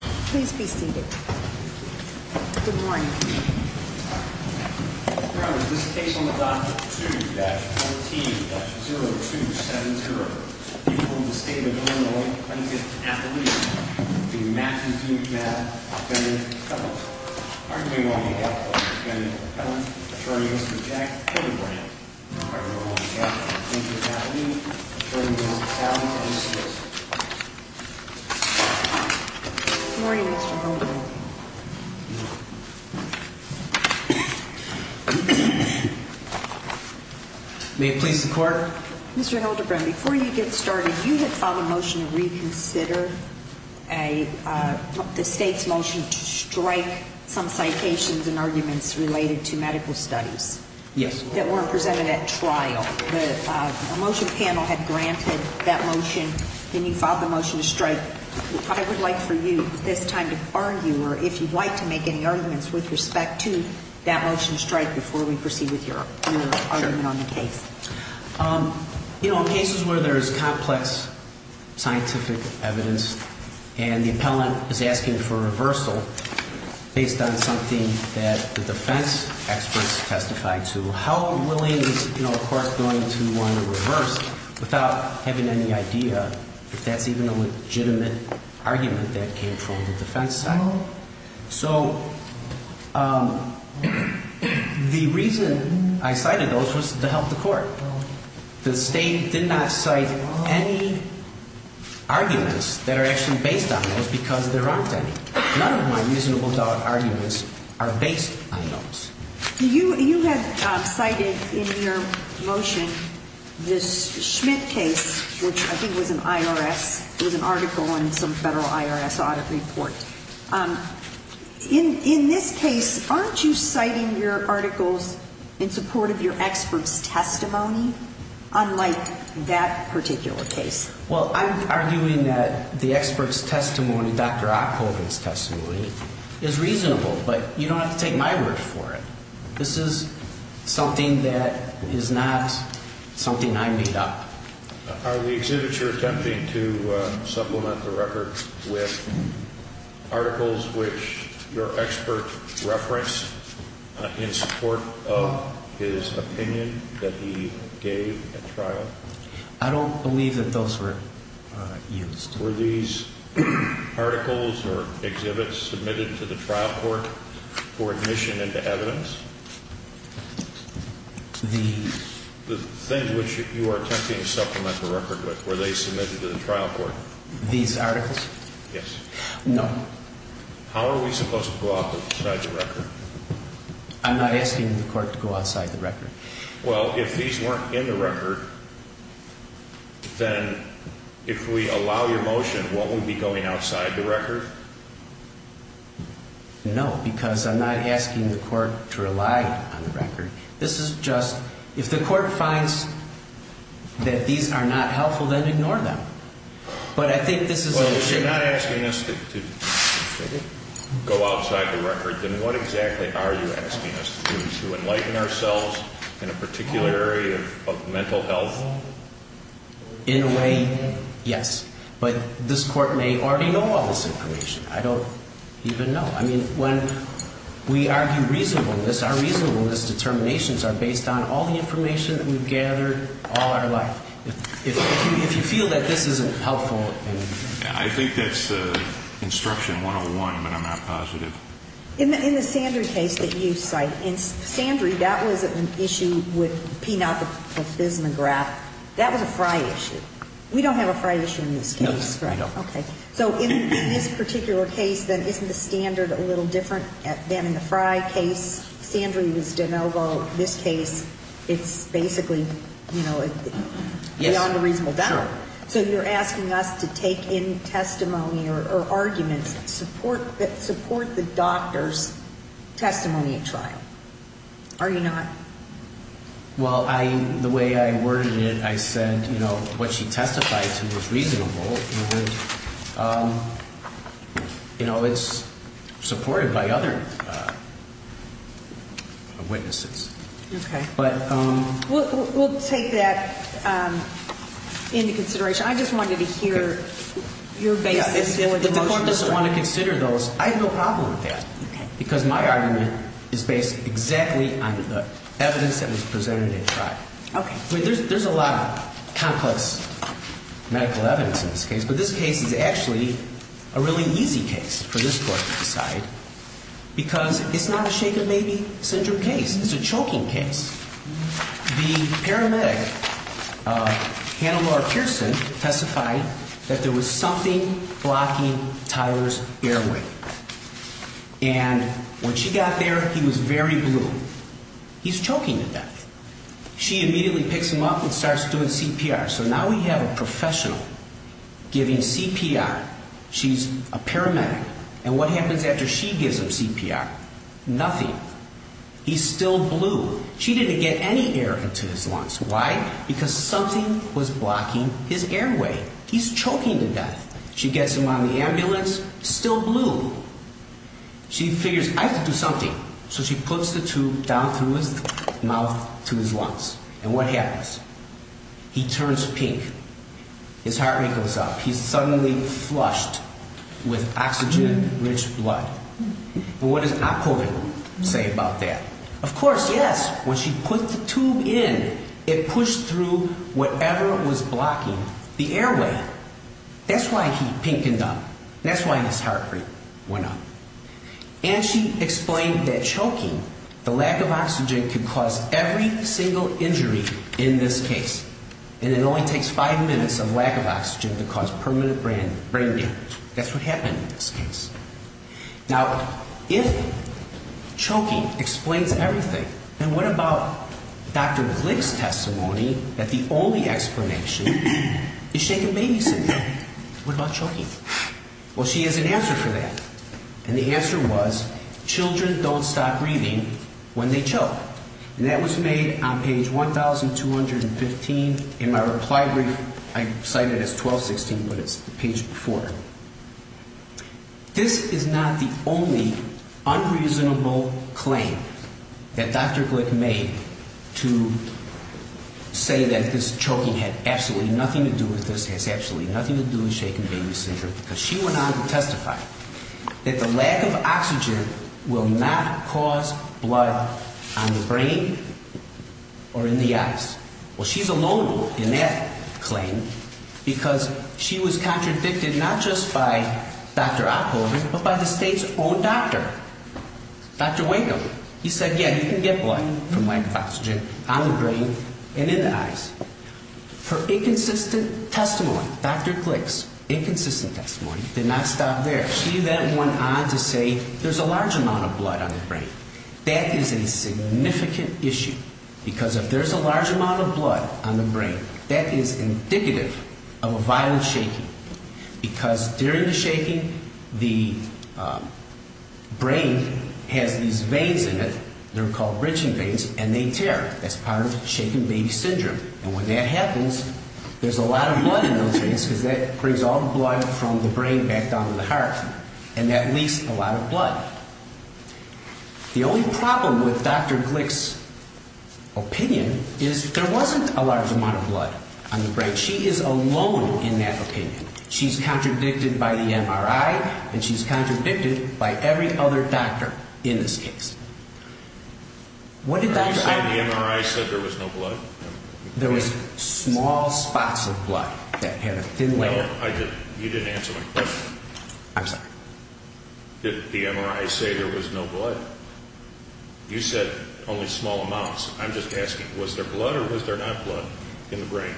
Please be seated. Good morning. This case on the dot 2-14-0272. You hold the state of Illinois plaintiff's affidavit. The McNabb v. McNabb, defendant Ellen. Arguing on behalf of defendant Ellen, attorney Mr. Jack Killebrand. Arguing on behalf of the plaintiff's affidavit, attorneys Allen and Smith. Good morning, Mr. Goldman. May it please the court. Mr. Hildebrand, before you get started, you had filed a motion to reconsider the state's motion to strike some citations and arguments related to medical studies. Yes, ma'am. That weren't presented at trial. The motion panel had granted that motion, and you filed the motion to strike. I would like for you, at this time, to argue, or if you'd like to make any arguments with respect to that motion to strike before we proceed with your argument on the case. In cases where there is complex scientific evidence and the appellant is asking for a reversal based on something that the defense experts testified to, how willing is a court going to want to reverse without having any idea if that's even a legitimate argument that came from the defense side? So the reason I cited those was to help the court. The state did not cite any arguments that are actually based on those because there aren't any. None of my miserable dog arguments are based on those. You had cited in your motion this Schmidt case, which I think was an IRS, it was an article in some federal IRS audit report. In this case, aren't you citing your articles in support of your expert's testimony, unlike that particular case? Well, I'm arguing that the expert's testimony, Dr. Ockhoven's testimony, is reasonable, but you don't have to take my word for it. This is something that is not something I made up. Are the exhibits you're attempting to supplement the record with articles which your expert referenced in support of his opinion that he gave at trial? I don't believe that those were used. Were these articles or exhibits submitted to the trial court for admission into evidence? The things which you are attempting to supplement the record with, were they submitted to the trial court? These articles? Yes. No. How are we supposed to go outside the record? I'm not asking the court to go outside the record. Well, if these weren't in the record, then if we allow your motion, won't we be going outside the record? No, because I'm not asking the court to rely on the record. This is just, if the court finds that these are not helpful, then ignore them. But I think this is a legitimate... Well, if you're not asking us to go outside the record, then what exactly are you asking us to do, to enlighten ourselves in a particular area of mental health? In a way, yes. But this court may already know all this information. I don't even know. I mean, when we argue reasonableness, our reasonableness determinations are based on all the information that we've gathered all our life. If you feel that this isn't helpful... I think that's instruction 101, but I'm not positive. In the Sandry case that you cite, in Sandry, that was an issue with P. Knopf of Bismarck. That was a Frye issue. We don't have a Frye issue in this case. No, we don't. Okay. So in this particular case, then isn't the standard a little different than in the Frye case? Sandry was de novo. This case, it's basically beyond a reasonable doubt. So you're asking us to take in testimony or arguments that support the doctor's testimony at trial. Are you not? Well, the way I worded it, I said what she testified to was reasonable. It's supported by other witnesses. Okay. We'll take that into consideration. I just wanted to hear your basis for the motion. If the court doesn't want to consider those, I have no problem with that because my argument is based exactly on the evidence that was presented at trial. Okay. There's a lot of complex medical evidence in this case, but this case is actually a really easy case for this court to decide because it's not a shaken baby syndrome case. It's a choking case. The paramedic, Hannibal R. Pearson, testified that there was something blocking Tyler's airway. And when she got there, he was very blue. He's choking to death. She immediately picks him up and starts doing CPR. So now we have a professional giving CPR. She's a paramedic. And what happens after she gives him CPR? Nothing. He's still blue. She didn't get any air into his lungs. Why? Because something was blocking his airway. He's choking to death. She gets him on the ambulance. Still blue. She figures, I have to do something. So she puts the tube down through his mouth to his lungs. And what happens? He turns pink. His heart rate goes up. He's suddenly flushed with oxygen-rich blood. But what does Oppovin say about that? Of course, yes, when she put the tube in, it pushed through whatever was blocking the airway. That's why he's pink and dumb. That's why his heart rate went up. And she explained that choking, the lack of oxygen, could cause every single injury in this case. And it only takes five minutes of lack of oxygen to cause permanent brain damage. That's what happened in this case. Now, if choking explains everything, then what about Dr. Glick's testimony that the only explanation is shaken baby syndrome? What about choking? Well, she has an answer for that. And the answer was children don't stop breathing when they choke. And that was made on page 1215 in my reply brief. I cite it as 1216, but it's page 4. This is not the only unreasonable claim that Dr. Glick made to say that this choking had absolutely nothing to do with this, has absolutely nothing to do with shaken baby syndrome, because she went on to testify that the lack of oxygen will not cause blood on the brain or in the eyes. Well, she's alone in that claim because she was contradicted not just by Dr. Oppovin, but by the state's own doctor, Dr. Wakeham. He said, yeah, you can get blood from lack of oxygen on the brain and in the eyes. Her inconsistent testimony, Dr. Glick's inconsistent testimony, did not stop there. She then went on to say there's a large amount of blood on the brain. That is a significant issue because if there's a large amount of blood on the brain, that is indicative of a violent shaking because during the shaking, the brain has these veins in it. They're called bridging veins, and they tear. That's part of shaken baby syndrome. And when that happens, there's a lot of blood in those veins because that brings all the blood from the brain back down to the heart, and that leaks a lot of blood. The only problem with Dr. Glick's opinion is there wasn't a large amount of blood on the brain. But she is alone in that opinion. She's contradicted by the MRI, and she's contradicted by every other doctor in this case. What did Dr. Oppovin say? You said the MRI said there was no blood? There was small spots of blood that had a thin layer. No, you didn't answer my question. I'm sorry. Did the MRI say there was no blood? You said only small amounts. I'm just asking, was there blood or was there not blood in the brain?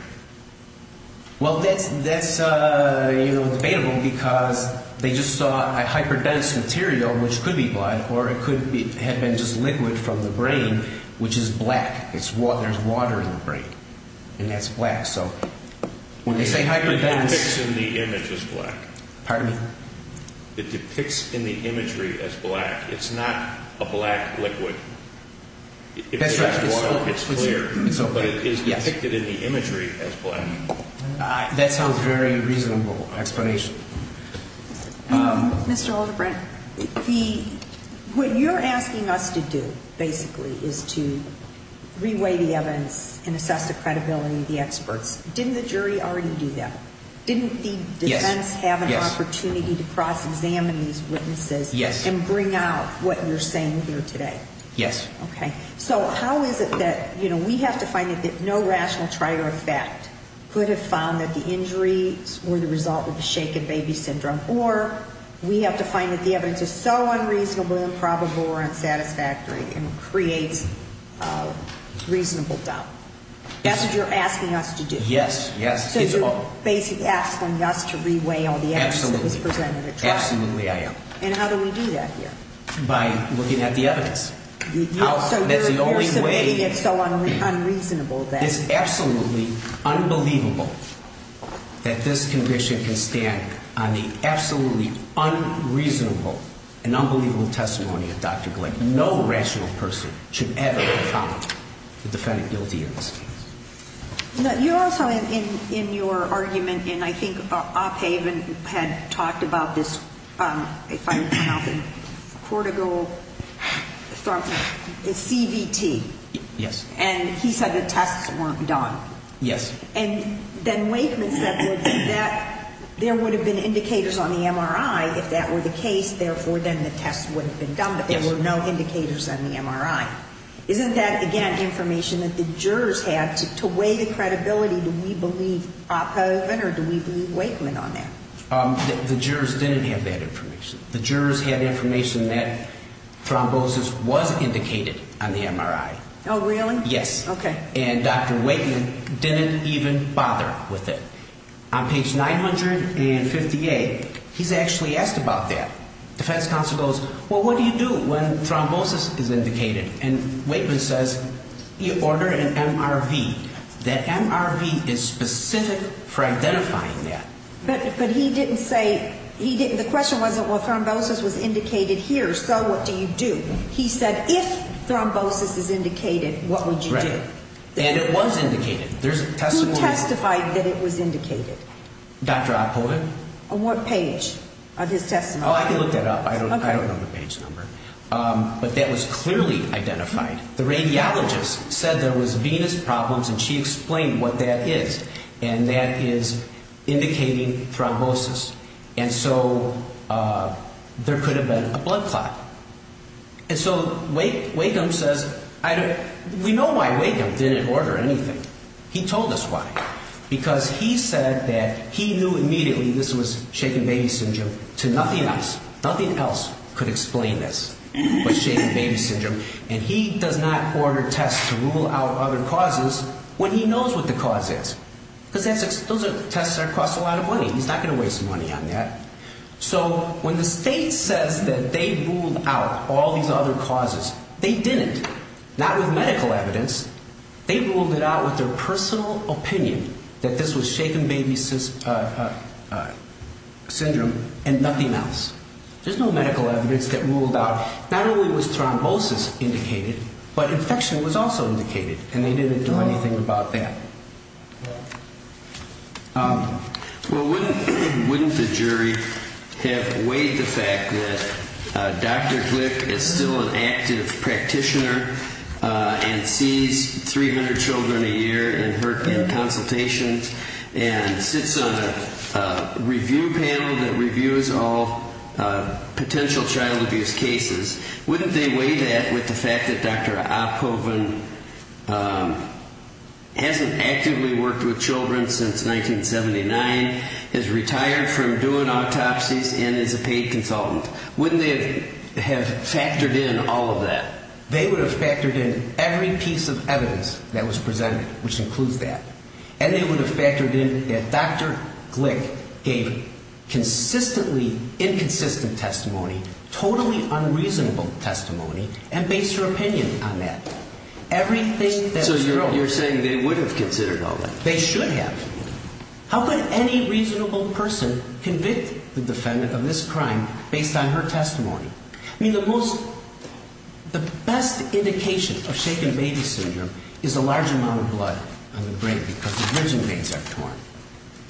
Well, that's debatable because they just saw a hyperdense material, which could be blood, or it could have been just liquid from the brain, which is black. There's water in the brain, and that's black. So when they say hyperdense— It depicts in the image as black. Pardon me? It depicts in the imagery as black. It's not a black liquid. That's right. It's clear, but it is depicted in the imagery as black. That sounds like a very reasonable explanation. Mr. Alderbrant, what you're asking us to do, basically, is to reweigh the evidence and assess the credibility of the experts. Didn't the jury already do that? Didn't the defense have an opportunity to cross-examine these witnesses and bring out what you're saying here today? Yes. Okay. So how is it that we have to find that no rational trier of fact could have found that the injuries were the result of the shaken baby syndrome, or we have to find that the evidence is so unreasonably improbable or unsatisfactory and creates reasonable doubt? That's what you're asking us to do. Yes, yes. So you're basically asking us to reweigh all the evidence that was presented at trial. Absolutely, I am. And how do we do that here? By looking at the evidence. So you're submitting it so unreasonably. It's absolutely unbelievable that this condition can stand on the absolutely unreasonable and unbelievable testimony of Dr. Glick. No rational person should ever have found the defendant guilty of this. You're also in your argument, and I think Ophaven had talked about this, if I can pronounce it, cortical CVT. Yes. And he said the tests weren't done. Yes. And then Wakeman said that there would have been indicators on the MRI if that were the case, therefore then the tests would have been done, but there were no indicators on the MRI. Isn't that, again, information that the jurors have to weigh the credibility? Do we believe Ophaven or do we believe Wakeman on that? The jurors didn't have that information. The jurors had information that thrombosis was indicated on the MRI. Oh, really? Yes. Okay. And Dr. Wakeman didn't even bother with it. On page 958, he's actually asked about that. Defense counsel goes, well, what do you do when thrombosis is indicated? And Wakeman says, you order an MRV. That MRV is specific for identifying that. But he didn't say, the question wasn't, well, thrombosis was indicated here, so what do you do? He said if thrombosis is indicated, what would you do? Right. And it was indicated. There's a testimony. Who testified that it was indicated? Dr. Ophaven. On what page of his testimony? Oh, I can look that up. I don't know the page number. But that was clearly identified. The radiologist said there was venous problems, and she explained what that is. And that is indicating thrombosis. And so there could have been a blood clot. And so Wakeman says, we know why Wakeman didn't order anything. He told us why. Because he said that he knew immediately this was shaken baby syndrome to nothing else. Nothing else could explain this was shaken baby syndrome. And he does not order tests to rule out other causes when he knows what the cause is. Because those are tests that cost a lot of money. He's not going to waste money on that. So when the state says that they ruled out all these other causes, they didn't. Not with medical evidence. They ruled it out with their personal opinion that this was shaken baby syndrome and nothing else. There's no medical evidence that ruled out not only was thrombosis indicated, but infection was also indicated. And they didn't do anything about that. Well, wouldn't the jury have weighed the fact that Dr. Glick is still an active practitioner and sees 300 children a year in her consultations and sits on a review panel that reviews all potential child abuse cases. Wouldn't they weigh that with the fact that Dr. Oppoven hasn't actively worked with children since 1979, has retired from doing autopsies and is a paid consultant. Wouldn't they have factored in all of that? They would have factored in every piece of evidence that was presented, which includes that. And they would have factored in that Dr. Glick gave consistently inconsistent testimony, totally unreasonable testimony, and based her opinion on that. So you're saying they would have considered all that? They should have. How could any reasonable person convict the defendant of this crime based on her testimony? I mean, the most, the best indication of shaken baby syndrome is a large amount of blood on the brain because the bridging veins are torn.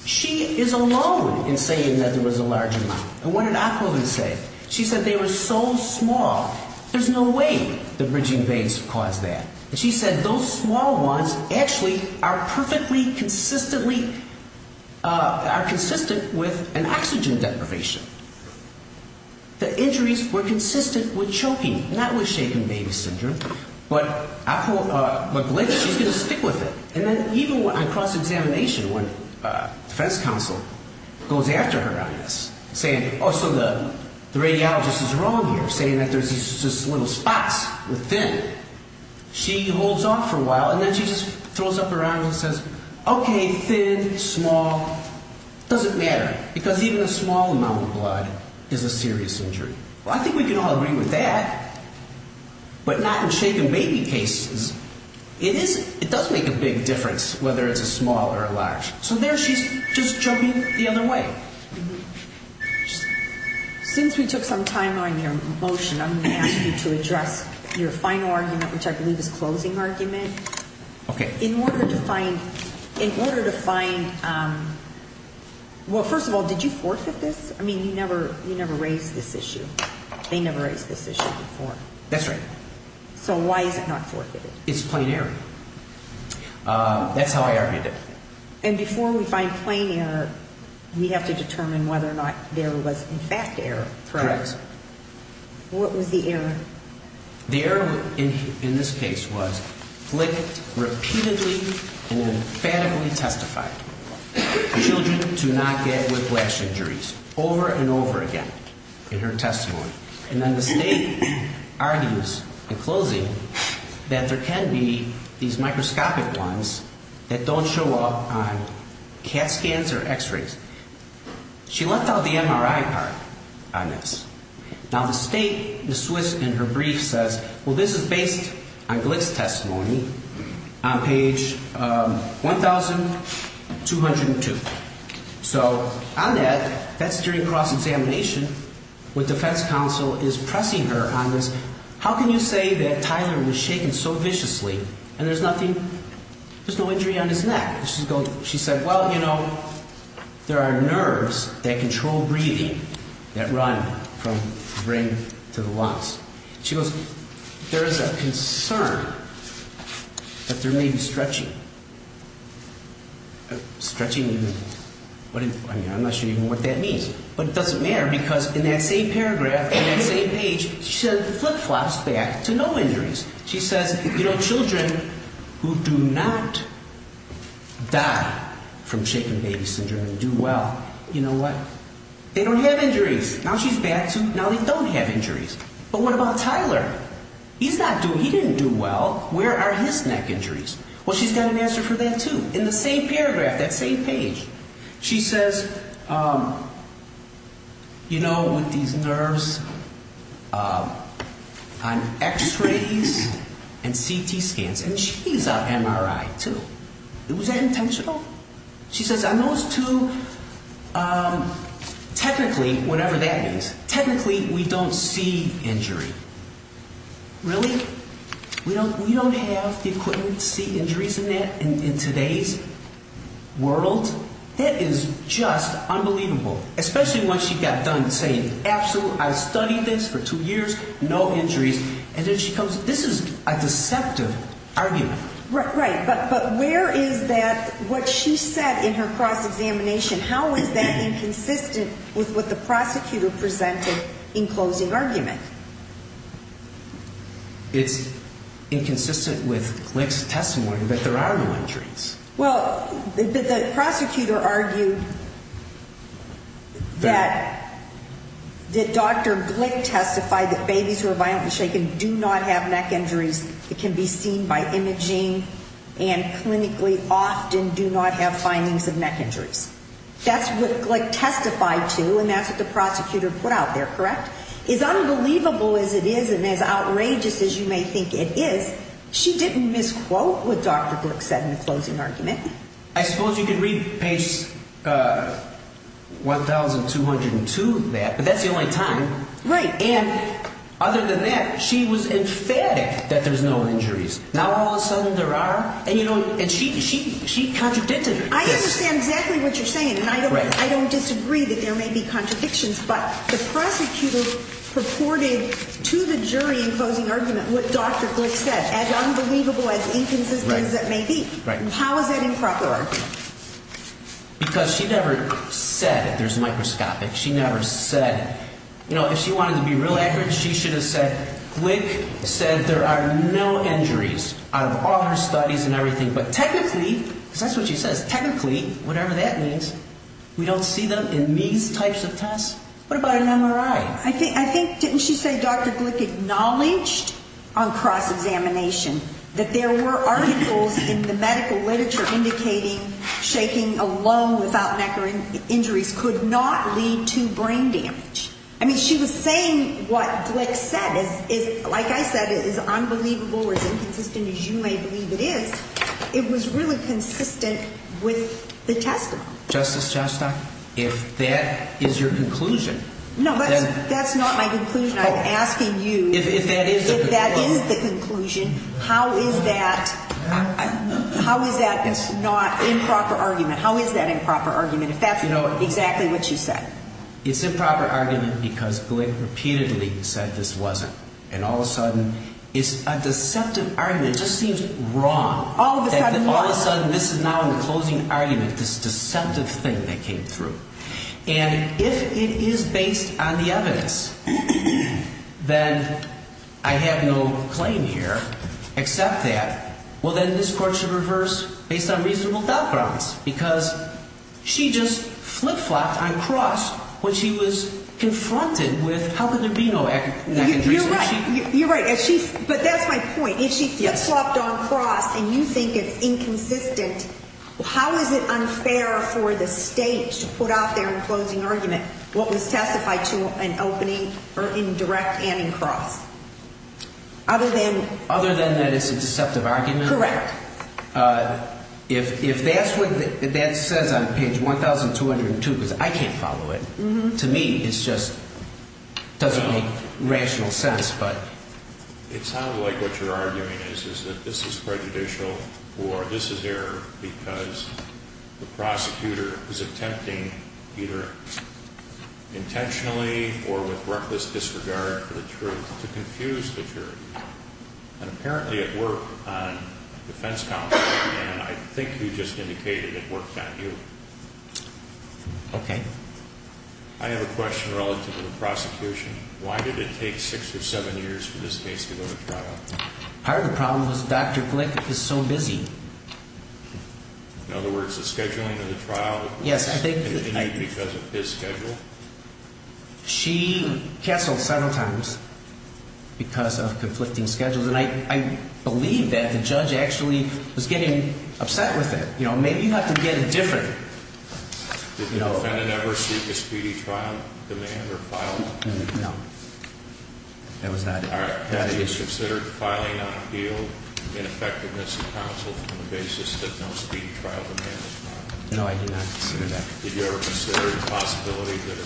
She is alone in saying that there was a large amount. And what did Oppoven say? She said they were so small, there's no way the bridging veins caused that. And she said those small ones actually are perfectly consistently, are consistent with an oxygen deprivation. The injuries were consistent with choking, not with shaken baby syndrome. But Glick, she's going to stick with it. And then even on cross-examination when defense counsel goes after her on this, saying, oh, so the radiologist is wrong here, saying that there's just little spots within. She holds off for a while, and then she just throws up her arm and says, okay, thin, small, doesn't matter. Because even a small amount of blood is a serious injury. Well, I think we can all agree with that, but not in shaken baby cases. It is, it does make a big difference whether it's a small or a large. So there she's just jumping the other way. Since we took some time on your motion, I'm going to ask you to address your final argument, which I believe is closing argument. Okay. In order to find, in order to find, well, first of all, did you forfeit this? I mean, you never raised this issue. They never raised this issue before. That's right. So why is it not forfeited? It's plain error. That's how I argued it. And before we find plain error, we have to determine whether or not there was in fact error. Correct. What was the error? The error in this case was flicked repeatedly and emphatically testified. Children do not get whiplash injuries over and over again in her testimony. And then the State argues in closing that there can be these microscopic ones that don't show up on CAT scans or x-rays. She left out the MRI part on this. Now, the State, Ms. Swiss, in her brief says, well, this is based on Glick's testimony on page 1202. So on that, that's during cross-examination with defense counsel is pressing her on this. How can you say that Tyler was shaken so viciously and there's nothing, there's no injury on his neck? She said, well, you know, there are nerves that control breathing that run from the brain to the lungs. She goes, there is a concern that there may be stretching. Stretching? I'm not sure even what that means. But it doesn't matter because in that same paragraph, in that same page, she flip-flops back to no injuries. She says, you know, children who do not die from shaken baby syndrome and do well, you know what? They don't have injuries. Now she's back to now they don't have injuries. But what about Tyler? He's not doing, he didn't do well. Where are his neck injuries? Well, she's got an answer for that, too, in the same paragraph, that same page. She says, you know, with these nerves on x-rays and CT scans. And she's on MRI, too. Was that intentional? She says, on those two, technically, whatever that means, technically we don't see injury. Really? We don't have the equipment to see injuries in today's world? That is just unbelievable. Especially when she got done saying, absolutely, I studied this for two years, no injuries. And then she comes, this is a deceptive argument. Right. But where is that, what she said in her cross-examination, how is that inconsistent with what the prosecutor presented in closing argument? It's inconsistent with Glick's testimony that there are no injuries. Well, the prosecutor argued that Dr. Glick testified that babies who are violently shaken do not have neck injuries. It can be seen by imaging and clinically often do not have findings of neck injuries. That's what Glick testified to and that's what the prosecutor put out there, correct? As unbelievable as it is and as outrageous as you may think it is, she didn't misquote what Dr. Glick said in the closing argument. I suppose you could read page 1202 of that, but that's the only time. Right. And other than that, she was emphatic that there's no injuries. Now all of a sudden there are? And she contradicted her. I understand exactly what you're saying. And I don't disagree that there may be contradictions, but the prosecutor purported to the jury in closing argument what Dr. Glick said, as unbelievable, as inconsistent as that may be. Right. How is that improper? Because she never said that there's microscopic. She never said, you know, if she wanted to be real accurate, she should have said Glick said there are no injuries out of all her studies and everything. But technically, because that's what she says, technically, whatever that means, we don't see them in these types of tests? What about an MRI? I think didn't she say Dr. Glick acknowledged on cross-examination that there were articles in the medical literature indicating shaking alone without neck or injuries could not lead to brain damage. I mean, she was saying what Glick said is, like I said, is unbelievable or as inconsistent as you may believe it is. It was really consistent with the testimony. Justice, if that is your conclusion. No, that's not my conclusion. I'm asking you if that is the conclusion. How is that? How is that? It's not improper argument. How is that improper argument? If that's exactly what you said. It's improper argument because Glick repeatedly said this wasn't. And all of a sudden it's a deceptive argument. It just seems wrong. All of a sudden what? All of a sudden this is now in the closing argument, this deceptive thing that came through. And if it is based on the evidence, then I have no claim here except that, well, then this court should reverse based on reasonable backgrounds. Because she just flip-flopped on cross when she was confronted with how could there be no neck injuries. You're right. You're right. But that's my point. If she flip-flopped on cross and you think it's inconsistent, how is it unfair for the state to put out there in closing argument what was testified to in opening or in direct and in cross? Other than. Other than that it's a deceptive argument. Correct. If that's what that says on page 1202, because I can't follow it, to me it's just doesn't make rational sense. It sounds like what you're arguing is that this is prejudicial or this is error because the prosecutor is attempting either intentionally or with reckless disregard for the truth to confuse the jury. And apparently it worked on defense counsel and I think you just indicated it worked on you. Okay. I have a question relative to the prosecution. Why did it take six or seven years for this case to go to trial? Part of the problem was Dr. Glick is so busy. In other words, the scheduling of the trial was in need because of his schedule? She cancelled several times because of conflicting schedules and I believe that the judge actually was getting upset with it. Maybe you have to get it different. Did the defendant ever seek a speedy trial, demand or file? No. That was added. Have you considered filing on appeal in effectiveness of counsel from the basis that no speedy trial demand is filed? No, I did not consider that. Did you ever consider the possibility that a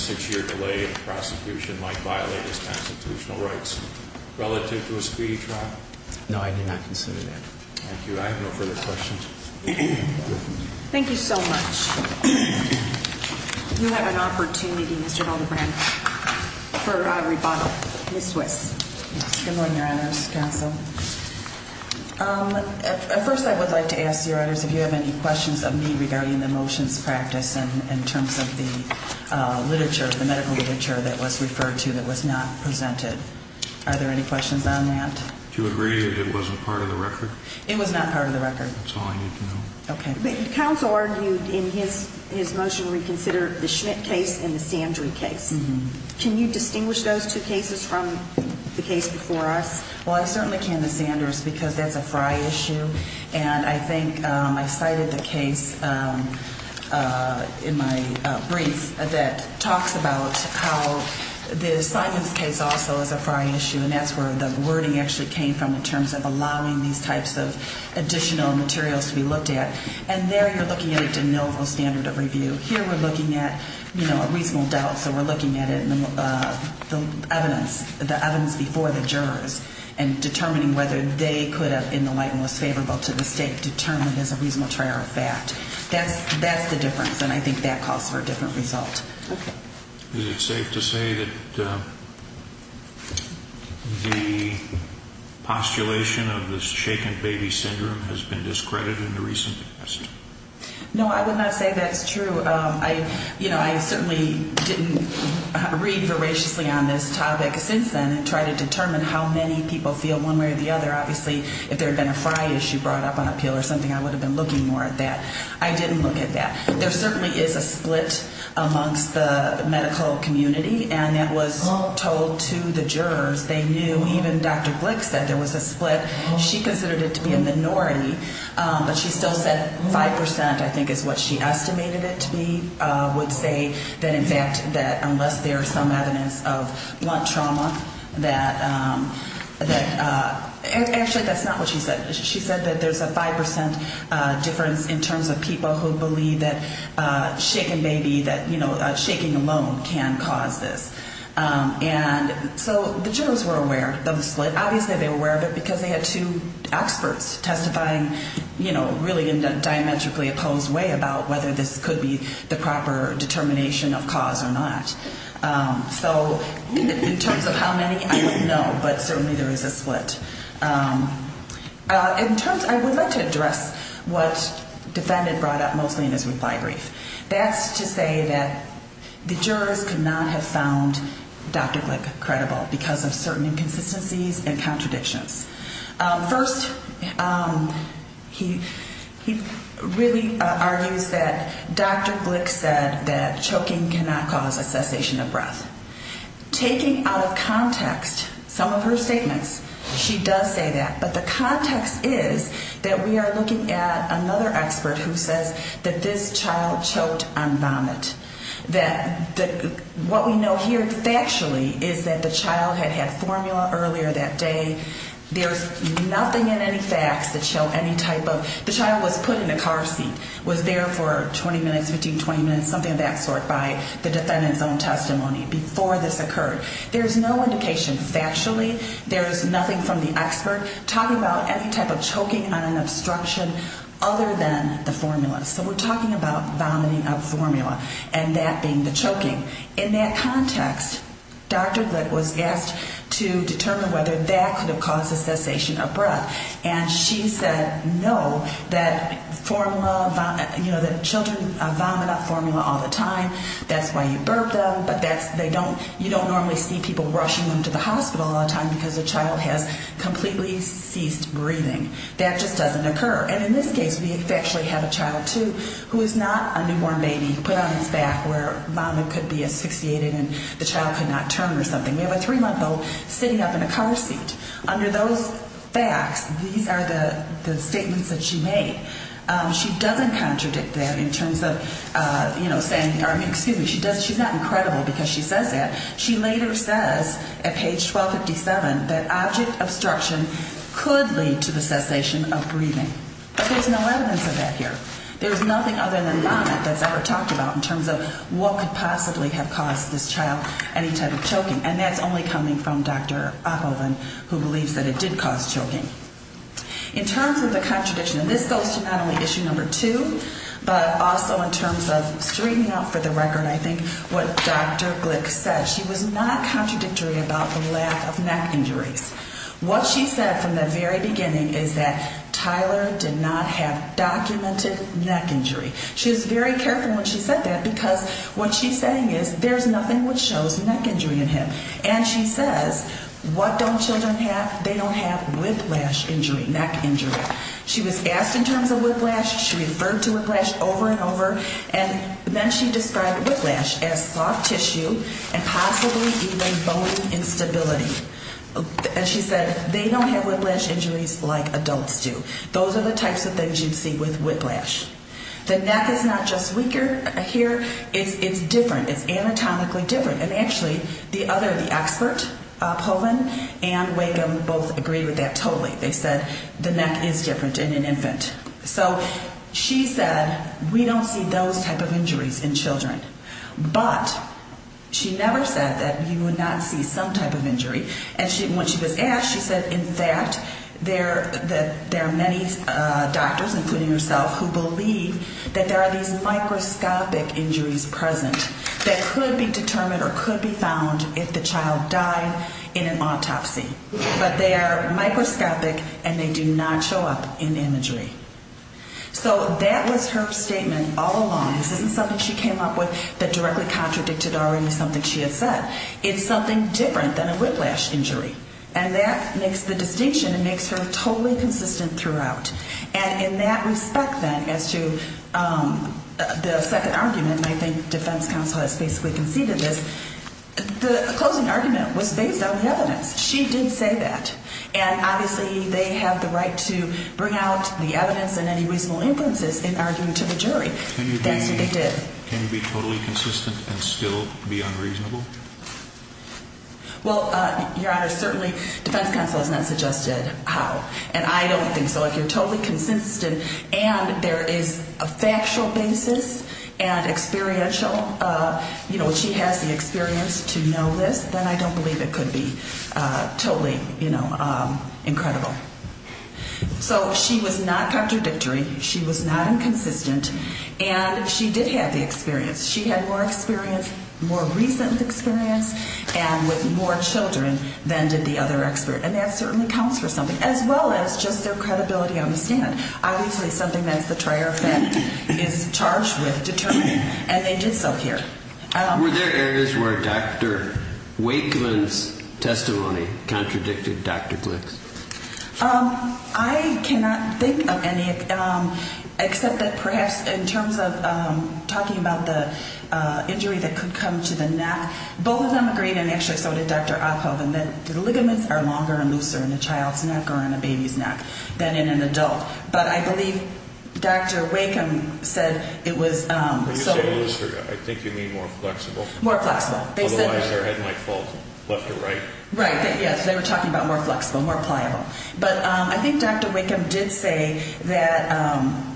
six-year delay in the prosecution might violate his constitutional rights relative to a speedy trial? No, I did not consider that. Thank you. I have no further questions. Thank you so much. You have an opportunity, Mr. Valdebrand, for a rebuttal. Ms. Swiss. Good morning, Your Honors Counsel. At first I would like to ask, Your Honors, if you have any questions of me regarding the motions practice in terms of the literature, the medical literature that was referred to that was not presented. Are there any questions on that? Do you agree that it wasn't part of the record? It was not part of the record. That's all I need to know. Okay. But counsel argued in his motion reconsider the Schmidt case and the Sandry case. Can you distinguish those two cases from the case before us? Well, I certainly can, Ms. Sanders, because that's a Frye issue. And I think I cited the case in my brief that talks about how the Simons case also is a Frye issue, and that's where the wording actually came from in terms of allowing these types of additional materials to be looked at. And there you're looking at a de novo standard of review. Here we're looking at, you know, a reasonable doubt. So we're looking at it in the evidence, the evidence before the jurors, and determining whether they could have, in the light most favorable to the State, determined as a reasonable trial fact. That's the difference, and I think that calls for a different result. Okay. Is it safe to say that the postulation of this shaken baby syndrome has been discredited in the recent past? No, I would not say that's true. You know, I certainly didn't read voraciously on this topic since then and try to determine how many people feel one way or the other. Obviously, if there had been a Frye issue brought up on appeal or something, I would have been looking more at that. I didn't look at that. There certainly is a split amongst the medical community, and that was told to the jurors. They knew. Even Dr. Glick said there was a split. She considered it to be a minority, but she still said 5%, I think, is what she estimated it to be, would say that in fact that unless there is some evidence of blunt trauma that actually that's not what she said. She said that there's a 5% difference in terms of people who believe that shaken baby, that shaking alone can cause this. And so the jurors were aware of the split. Obviously, they were aware of it because they had two experts testifying, you know, really in a diametrically opposed way about whether this could be the proper determination of cause or not. So in terms of how many, I wouldn't know, but certainly there is a split. In terms, I would like to address what defendant brought up mostly in his reply brief. That's to say that the jurors could not have found Dr. Glick credible because of certain inconsistencies and contradictions. First, he really argues that Dr. Glick said that choking cannot cause a cessation of breath. Taking out of context some of her statements, she does say that. But the context is that we are looking at another expert who says that this child choked on vomit. That what we know here factually is that the child had had formula earlier that day. There's nothing in any facts that show any type of, the child was put in a car seat, was there for 20 minutes, 15, 20 minutes, something of that sort by the defendant's own testimony before this occurred. There's no indication factually. There's nothing from the expert talking about any type of choking on an obstruction other than the formula. So we're talking about vomiting of formula and that being the choking. In that context, Dr. Glick was asked to determine whether that could have caused the cessation of breath. And she said no, that formula, you know, that children vomit up formula all the time. That's why you burp them. But that's, they don't, you don't normally see people rushing them to the hospital all the time because the child has completely ceased breathing. That just doesn't occur. And in this case, we actually have a child, too, who is not a newborn baby put on its back where vomit could be asphyxiated and the child could not turn or something. We have a three-month-old sitting up in a car seat. Under those facts, these are the statements that she made. She doesn't contradict that in terms of, you know, saying, excuse me, she's not incredible because she says that. She later says at page 1257 that object obstruction could lead to the cessation of breathing. But there's no evidence of that here. There's nothing other than vomit that's ever talked about in terms of what could possibly have caused this child any type of choking. And that's only coming from Dr. Oppelman, who believes that it did cause choking. In terms of the contradiction, and this goes to not only issue number two, but also in terms of straightening out for the record, I think, what Dr. Glick said. She was not contradictory about the lack of neck injuries. What she said from the very beginning is that Tyler did not have documented neck injury. She was very careful when she said that because what she's saying is there's nothing which shows neck injury in him. And she says, what don't children have? They don't have whiplash injury, neck injury. She was asked in terms of whiplash. She referred to whiplash over and over. And then she described whiplash as soft tissue and possibly even bone instability. And she said they don't have whiplash injuries like adults do. Those are the types of things you see with whiplash. The neck is not just weaker here. It's different. It's anatomically different. And actually, the other, the expert, Oppelman and Wigum both agreed with that totally. They said the neck is different in an infant. So she said we don't see those type of injuries in children. But she never said that you would not see some type of injury. And when she was asked, she said, in fact, there are many doctors, including herself, who believe that there are these microscopic injuries present that could be determined or could be found if the child died in an autopsy. But they are microscopic, and they do not show up in imagery. So that was her statement all along. This isn't something she came up with that directly contradicted already something she had said. It's something different than a whiplash injury. And that makes the distinction and makes her totally consistent throughout. And in that respect, then, as to the second argument, and I think defense counsel has basically conceded this, the closing argument was based on evidence. She didn't say that. And obviously they have the right to bring out the evidence and any reasonable inferences in arguing to the jury. That's what they did. Can you be totally consistent and still be unreasonable? Well, Your Honor, certainly defense counsel has not suggested how. And I don't think so. If you're totally consistent and there is a factual basis and experiential, you know, she has the experience to know this, then I don't believe it could be totally, you know, incredible. So she was not contradictory. She was not inconsistent. And she did have the experience. She had more experience, more recent experience, and with more children than did the other expert. And that certainly counts for something, as well as just their credibility on the stand. Obviously something that's the trier of that is charged with determining. And they did so here. Were there areas where Dr. Wakeman's testimony contradicted Dr. Glick's? I cannot think of any, except that perhaps in terms of talking about the injury that could come to the neck, both of them agreed, and actually so did Dr. Oppo, that the ligaments are longer and looser in a child's neck or in a baby's neck than in an adult. But I believe Dr. Wakeman said it was so. When you say looser, I think you mean more flexible. More flexible. Otherwise their head might fall left or right. Right. Yes, they were talking about more flexible, more pliable. But I think Dr. Wakeman did say that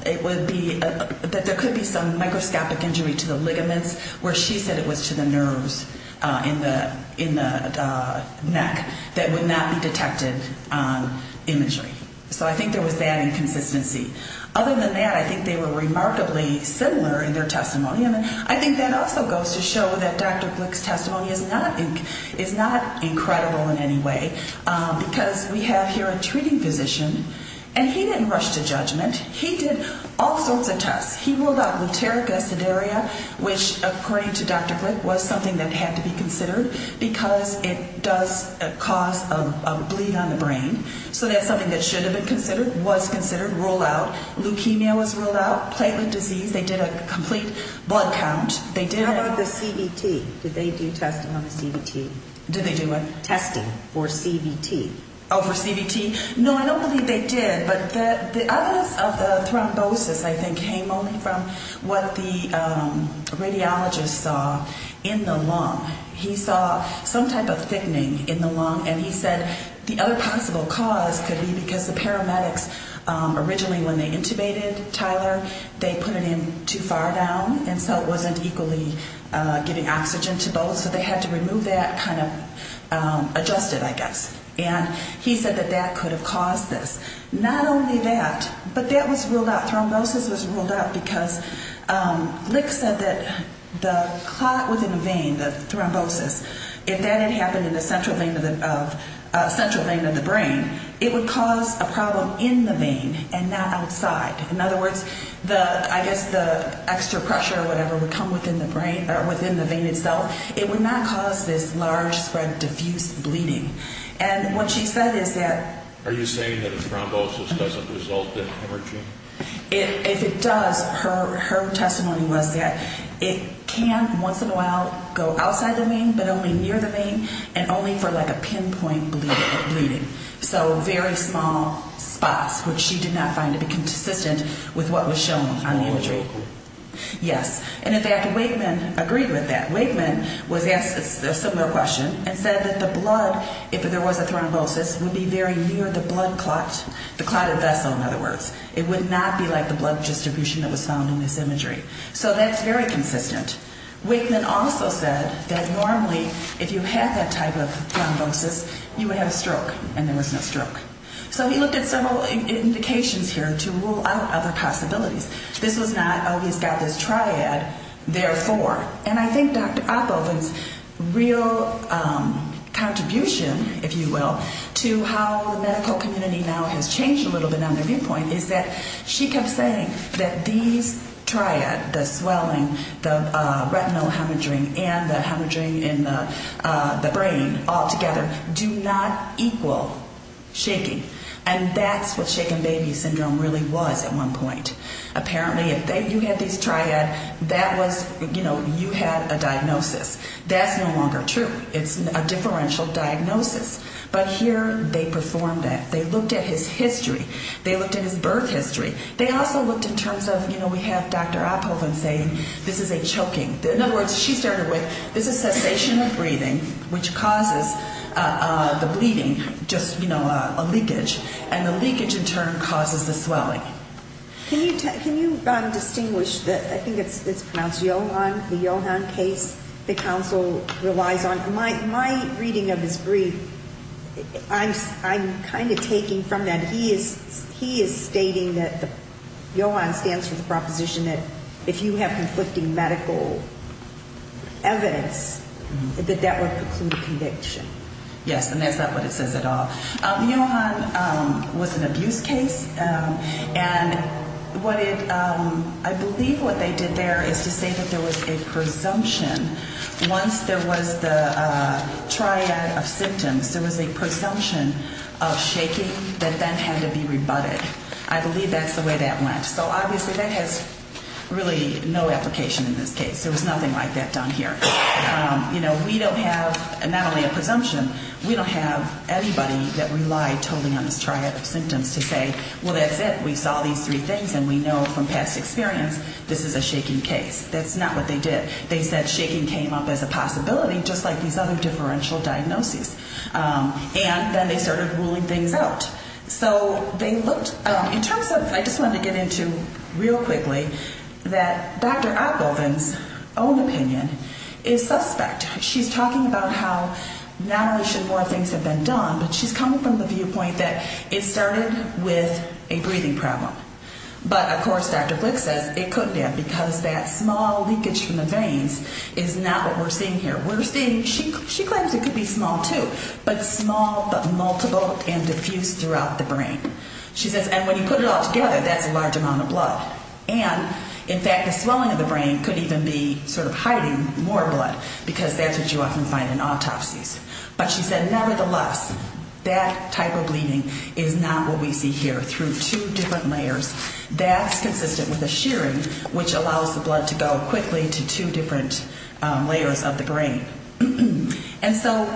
there could be some microscopic injury to the ligaments, where she said it was to the nerves in the neck that would not be detected on imagery. So I think there was that inconsistency. Other than that, I think they were remarkably similar in their testimony. And I think that also goes to show that Dr. Glick's testimony is not incredible in any way, because we have here a treating physician, and he didn't rush to judgment. He did all sorts of tests. He ruled out luteric aciduria, which, according to Dr. Glick, was something that had to be considered because it does cause a bleed on the brain. So that's something that should have been considered, was considered, ruled out. Leukemia was ruled out. Platelet disease. They did a complete blood count. How about the CVT? Did they do testing on the CVT? Did they do what? Testing for CVT. Oh, for CVT? No, I don't believe they did, but the evidence of the thrombosis, I think, came only from what the radiologist saw in the lung. He saw some type of thickening in the lung, and he said the other possible cause could be because the paramedics originally, when they intubated Tyler, they put it in too far down, and so it wasn't equally giving oxygen to both. So they had to remove that, kind of adjust it, I guess. And he said that that could have caused this. Not only that, but that was ruled out. Thrombosis was ruled out because Glick said that the clot within the vein, the thrombosis, if that had happened in the central vein of the brain, it would cause a problem in the vein and not outside. In other words, I guess the extra pressure or whatever would come within the vein itself. It would not cause this large spread, diffuse bleeding. And what she said is that... Are you saying that a thrombosis doesn't result in hemorrhaging? If it does, her testimony was that it can once in a while go outside the vein, but only near the vein, and only for like a pinpoint bleeding. So very small spots, which she did not find to be consistent with what was shown on the imagery. Yes. And in fact, Wakeman agreed with that. Wakeman was asked a similar question and said that the blood, if there was a thrombosis, would be very near the blood clot, the clotted vessel, in other words. It would not be like the blood distribution that was found in this imagery. So that's very consistent. Wakeman also said that normally, if you had that type of thrombosis, you would have a stroke, and there was no stroke. So he looked at several indications here to rule out other possibilities. This was not, oh, he's got this triad, therefore. And I think Dr. Oppelman's real contribution, if you will, to how the medical community now has changed a little bit on their viewpoint is that she kept saying that these triads, the swelling, the retinal hemorrhaging, and the hemorrhaging in the brain altogether do not equal shaking. And that's what shaken baby syndrome really was at one point. Apparently if you had these triads, that was, you know, you had a diagnosis. That's no longer true. It's a differential diagnosis. But here they performed that. They looked at his history. They looked at his birth history. They also looked in terms of, you know, we have Dr. Oppelman saying this is a choking. In other words, she started with this is cessation of breathing, which causes the bleeding, just, you know, a leakage. And the leakage, in turn, causes the swelling. Can you distinguish the, I think it's pronounced Yohan, the Yohan case that counsel relies on? My reading of his brief, I'm kind of taking from that. He is stating that Yohan stands for the proposition that if you have conflicting medical evidence, that that would preclude conviction. Yes. And that's not what it says at all. Yohan was an abuse case. And what it, I believe what they did there is to say that there was a presumption once there was the triad of symptoms, there was a presumption of shaking that then had to be rebutted. I believe that's the way that went. So obviously that has really no application in this case. There was nothing like that done here. You know, we don't have not only a presumption, we don't have anybody that relied totally on this triad of symptoms to say, well, that's it, we saw these three things and we know from past experience this is a shaking case. That's not what they did. They said shaking came up as a possibility just like these other differential diagnoses. And then they started ruling things out. So they looked, in terms of, I just wanted to get into real quickly that Dr. Ogilvien's own opinion is suspect. She's talking about how not only should more things have been done, but she's coming from the viewpoint that it started with a breathing problem. But, of course, Dr. Glick says it couldn't have because that small leakage from the veins is not what we're seeing here. We're seeing, she claims it could be small too, but small but multiple and diffuse throughout the brain. She says, and when you put it all together, that's a large amount of blood. And, in fact, the swelling of the brain could even be sort of hiding more blood because that's what you often find in autopsies. But she said, nevertheless, that type of bleeding is not what we see here through two different layers. That's consistent with a shearing, which allows the blood to go quickly to two different layers of the brain. And so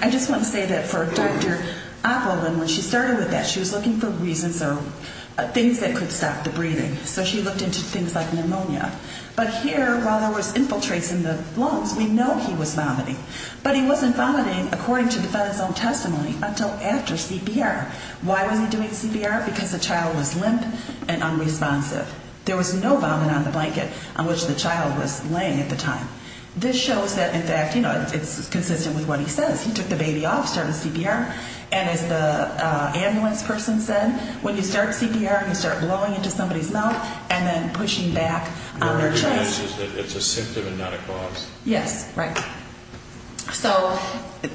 I just want to say that for Dr. Ogilvien, when she started with that, she was looking for reasons or things that could stop the breathing. So she looked into things like pneumonia. But here, while there was infiltrates in the lungs, we know he was vomiting. But he wasn't vomiting, according to the fetus's own testimony, until after CPR. Why was he doing CPR? Because the child was limp and unresponsive. There was no vomit on the blanket on which the child was laying at the time. This shows that, in fact, you know, it's consistent with what he says. He took the baby off, started CPR. And as the ambulance person said, when you start CPR, you start blowing into somebody's mouth and then pushing back on their chest. It's a symptom and not a cause. Yes, right. So,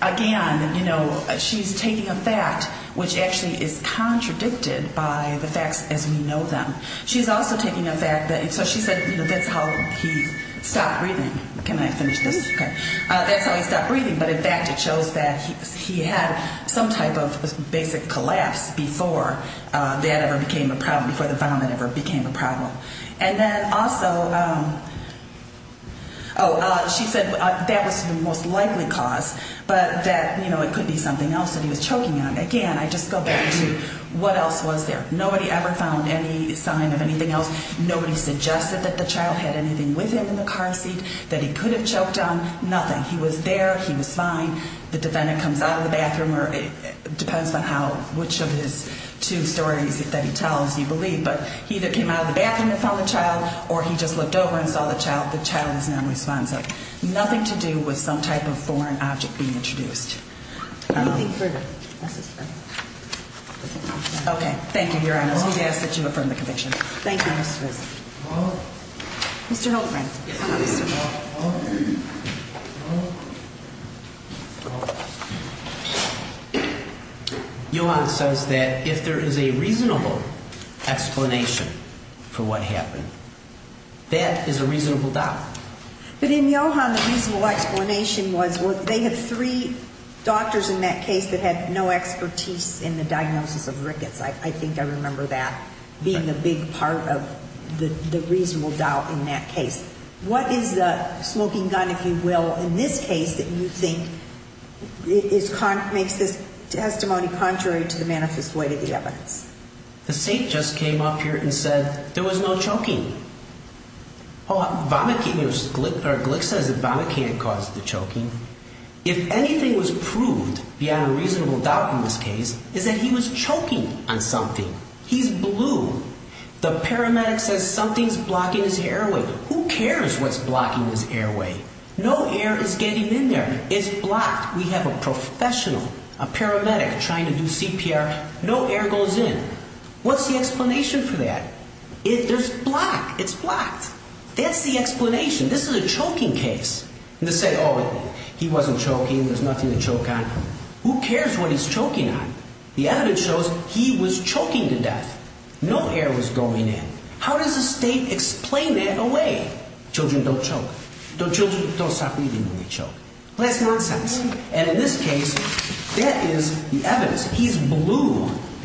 again, you know, she's taking a fact which actually is contradicted by the facts as we know them. She's also taking a fact that, so she said, you know, that's how he stopped breathing. Can I finish this? Okay. That's how he stopped breathing. But, in fact, it shows that he had some type of basic collapse before that ever became a problem, before the vomit ever became a problem. And then also, oh, she said that was the most likely cause, but that, you know, it could be something else that he was choking on. Again, I just go back to what else was there. Nobody ever found any sign of anything else. Nobody suggested that the child had anything with him in the car seat that he could have choked on. Nothing. He was there. He was fine. The defendant comes out of the bathroom or it depends on how, which of his two stories that he tells you believe. But he either came out of the bathroom and found the child or he just looked over and saw the child. The child is nonresponsive. Nothing to do with some type of foreign object being introduced. Anything further? Okay. Thank you, Your Honor. So we ask that you affirm the conviction. Thank you, Mr. Wilson. Mr. Holtgren. Your Honor, it says that if there is a reasonable explanation for what happened, that is a reasonable doubt. But in Yohan, the reasonable explanation was they had three doctors in that case that had no expertise in the diagnosis of rickets. I think I remember that being a big part of the reasonable doubt in that case. What is the smoking gun, if you will, in this case that you think makes this testimony contrary to the manifest way to the evidence? The saint just came up here and said there was no choking. Glick says that vomit can't cause the choking. If anything was proved beyond a reasonable doubt in this case, it's that he was choking on something. He's blue. The paramedic says something's blocking his airway. Who cares what's blocking his airway? No air is getting in there. It's blocked. We have a professional, a paramedic, trying to do CPR. No air goes in. What's the explanation for that? There's block. It's blocked. That's the explanation. This is a choking case. And to say, oh, he wasn't choking, there's nothing to choke on. Who cares what he's choking on? The evidence shows he was choking to death. No air was going in. How does the state explain that away? Children don't choke. Children don't stop breathing when they choke. That's nonsense. And in this case, that is the evidence. He's blue.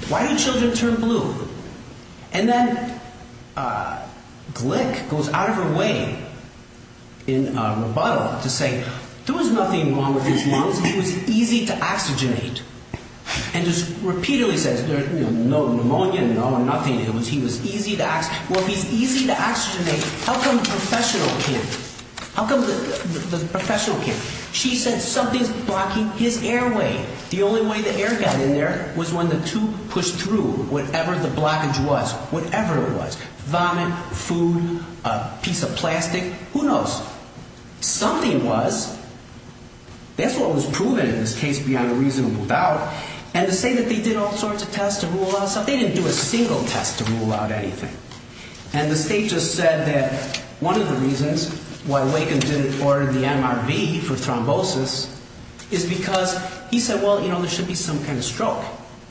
Why do children turn blue? And then Glick goes out of her way in rebuttal to say, there was nothing wrong with his lungs. He was easy to oxygenate. And just repeatedly says, no pneumonia, no nothing. He was easy to oxygenate. Well, if he's easy to oxygenate, how come the professional can't? How come the professional can't? She said something's blocking his airway. The only way the air got in there was when the tube pushed through whatever the blockage was, whatever it was. Vomit, food, a piece of plastic. Who knows? Something was. That's what was proven in this case beyond a reasonable doubt. And to say that they did all sorts of tests to rule out something, they didn't do a single test to rule out anything. And the state just said that one of the reasons why Waken didn't order the MRV for thrombosis is because he said, well, you know, there should be some kind of stroke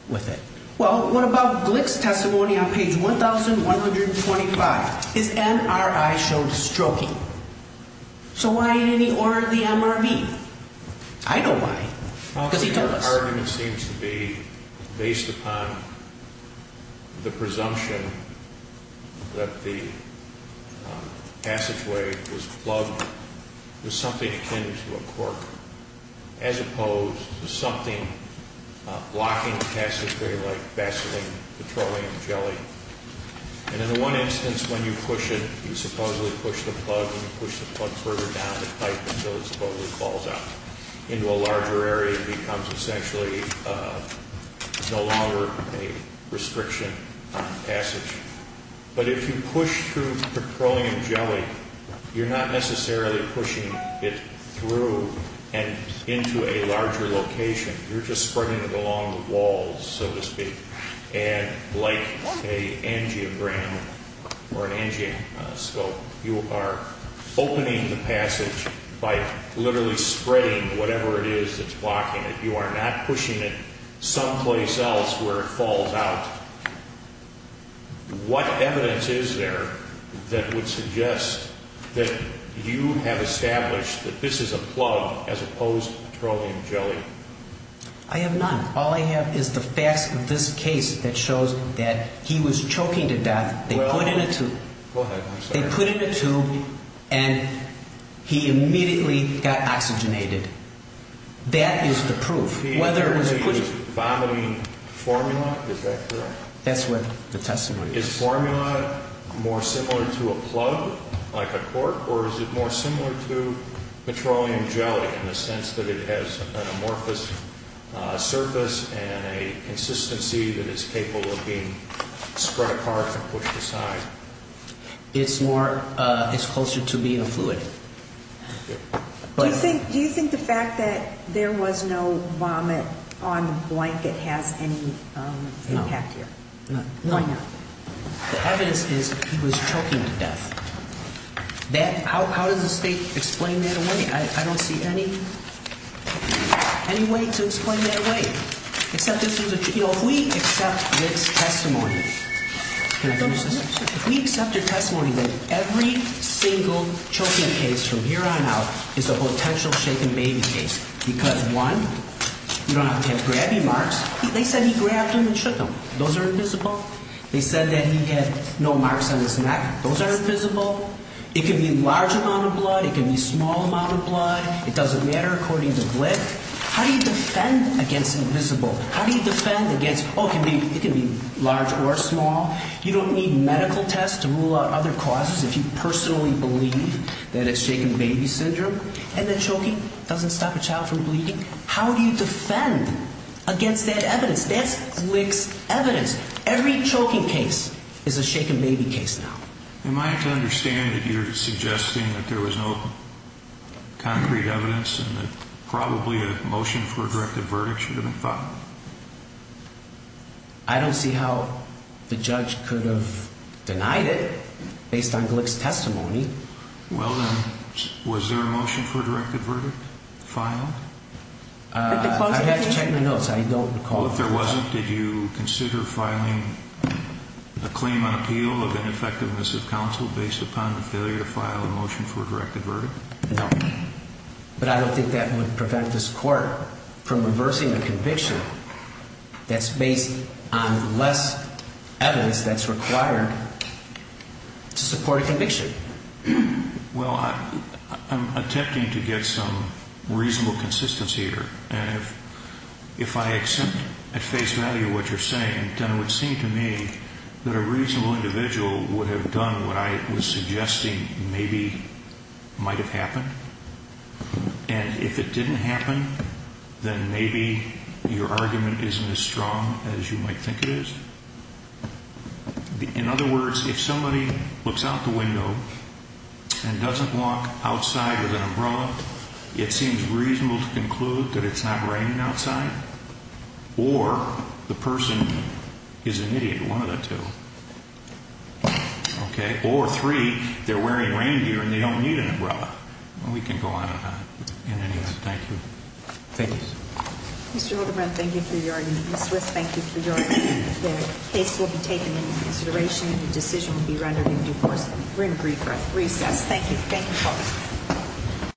with it. Well, what about Glick's testimony on page 1,125? His MRI showed stroking. So why didn't he order the MRV? I know why. Because he told us. The argument seems to be based upon the presumption that the passageway was plugged with something akin to a cork as opposed to something blocking the passageway like Vaseline, petroleum, jelly. And in one instance when you push it, you supposedly push the plug and you push the plug further down the pipe until it supposedly falls out into a larger area and becomes essentially no longer a restriction passage. But if you push through petroleum jelly, you're not necessarily pushing it through and into a larger location. You're just spreading it along the walls, so to speak. And like an angiogram or an angioscope, you are opening the passage by literally spreading whatever it is that's blocking it. You are not pushing it someplace else where it falls out. What evidence is there that would suggest that you have established that this is a plug as opposed to petroleum jelly? I have none. All I have is the facts of this case that shows that he was choking to death. They put in a tube. Go ahead. They put in a tube and he immediately got oxygenated. That is the proof. Whether he was vomiting formula, is that correct? That's what the testimony is. Is formula more similar to a plug like a cork or is it more similar to petroleum jelly in the sense that it has an amorphous surface and a consistency that is capable of being spread apart and pushed aside? Do you think the fact that there was no vomit on the blanket has any impact here? No. Why not? The evidence is he was choking to death. How does the State explain that away? I don't see any way to explain that away. If we accept this testimony, can I finish this? If we accept your testimony that every single choking case from here on out is a potential shaken baby case because, one, you don't have to have grabby marks. They said he grabbed him and shook him. Those are invisible. They said that he had no marks on his neck. Those are invisible. It could be a large amount of blood. It could be a small amount of blood. It doesn't matter according to Glick. How do you defend against invisible? How do you defend against, oh, it can be large or small? You don't need medical tests to rule out other causes if you personally believe that it's shaken baby syndrome and that choking doesn't stop a child from bleeding. How do you defend against that evidence? That's Glick's evidence. Every choking case is a shaken baby case now. Am I to understand that you're suggesting that there was no concrete evidence and that probably a motion for a directive verdict should have been filed? I don't see how the judge could have denied it based on Glick's testimony. Well, then, was there a motion for a directive verdict filed? I have to check my notes. I don't recall. Well, if there wasn't, did you consider filing a claim on appeal of ineffectiveness of counsel based upon the failure to file a motion for a directive verdict? No. But I don't think that would prevent this court from reversing a conviction that's based on less evidence that's required to support a conviction. Well, I'm attempting to get some reasonable consistency here. And if I accept at face value what you're saying, then it would seem to me that a reasonable individual would have done what I was suggesting maybe might have happened. And if it didn't happen, then maybe your argument isn't as strong as you might think it is. In other words, if somebody looks out the window and doesn't walk outside with an umbrella, it seems reasonable to conclude that it's not raining outside. Or the person is an idiot, one of the two. Okay? Or three, they're wearing reindeer and they don't need an umbrella. We can go on and on in any of that. Thank you. Thank you. Mr. Hildebrand, thank you for your argument. The case will be taken into consideration and the decision will be rendered in due course. We're in brief recess. Thank you. Thank you, folks.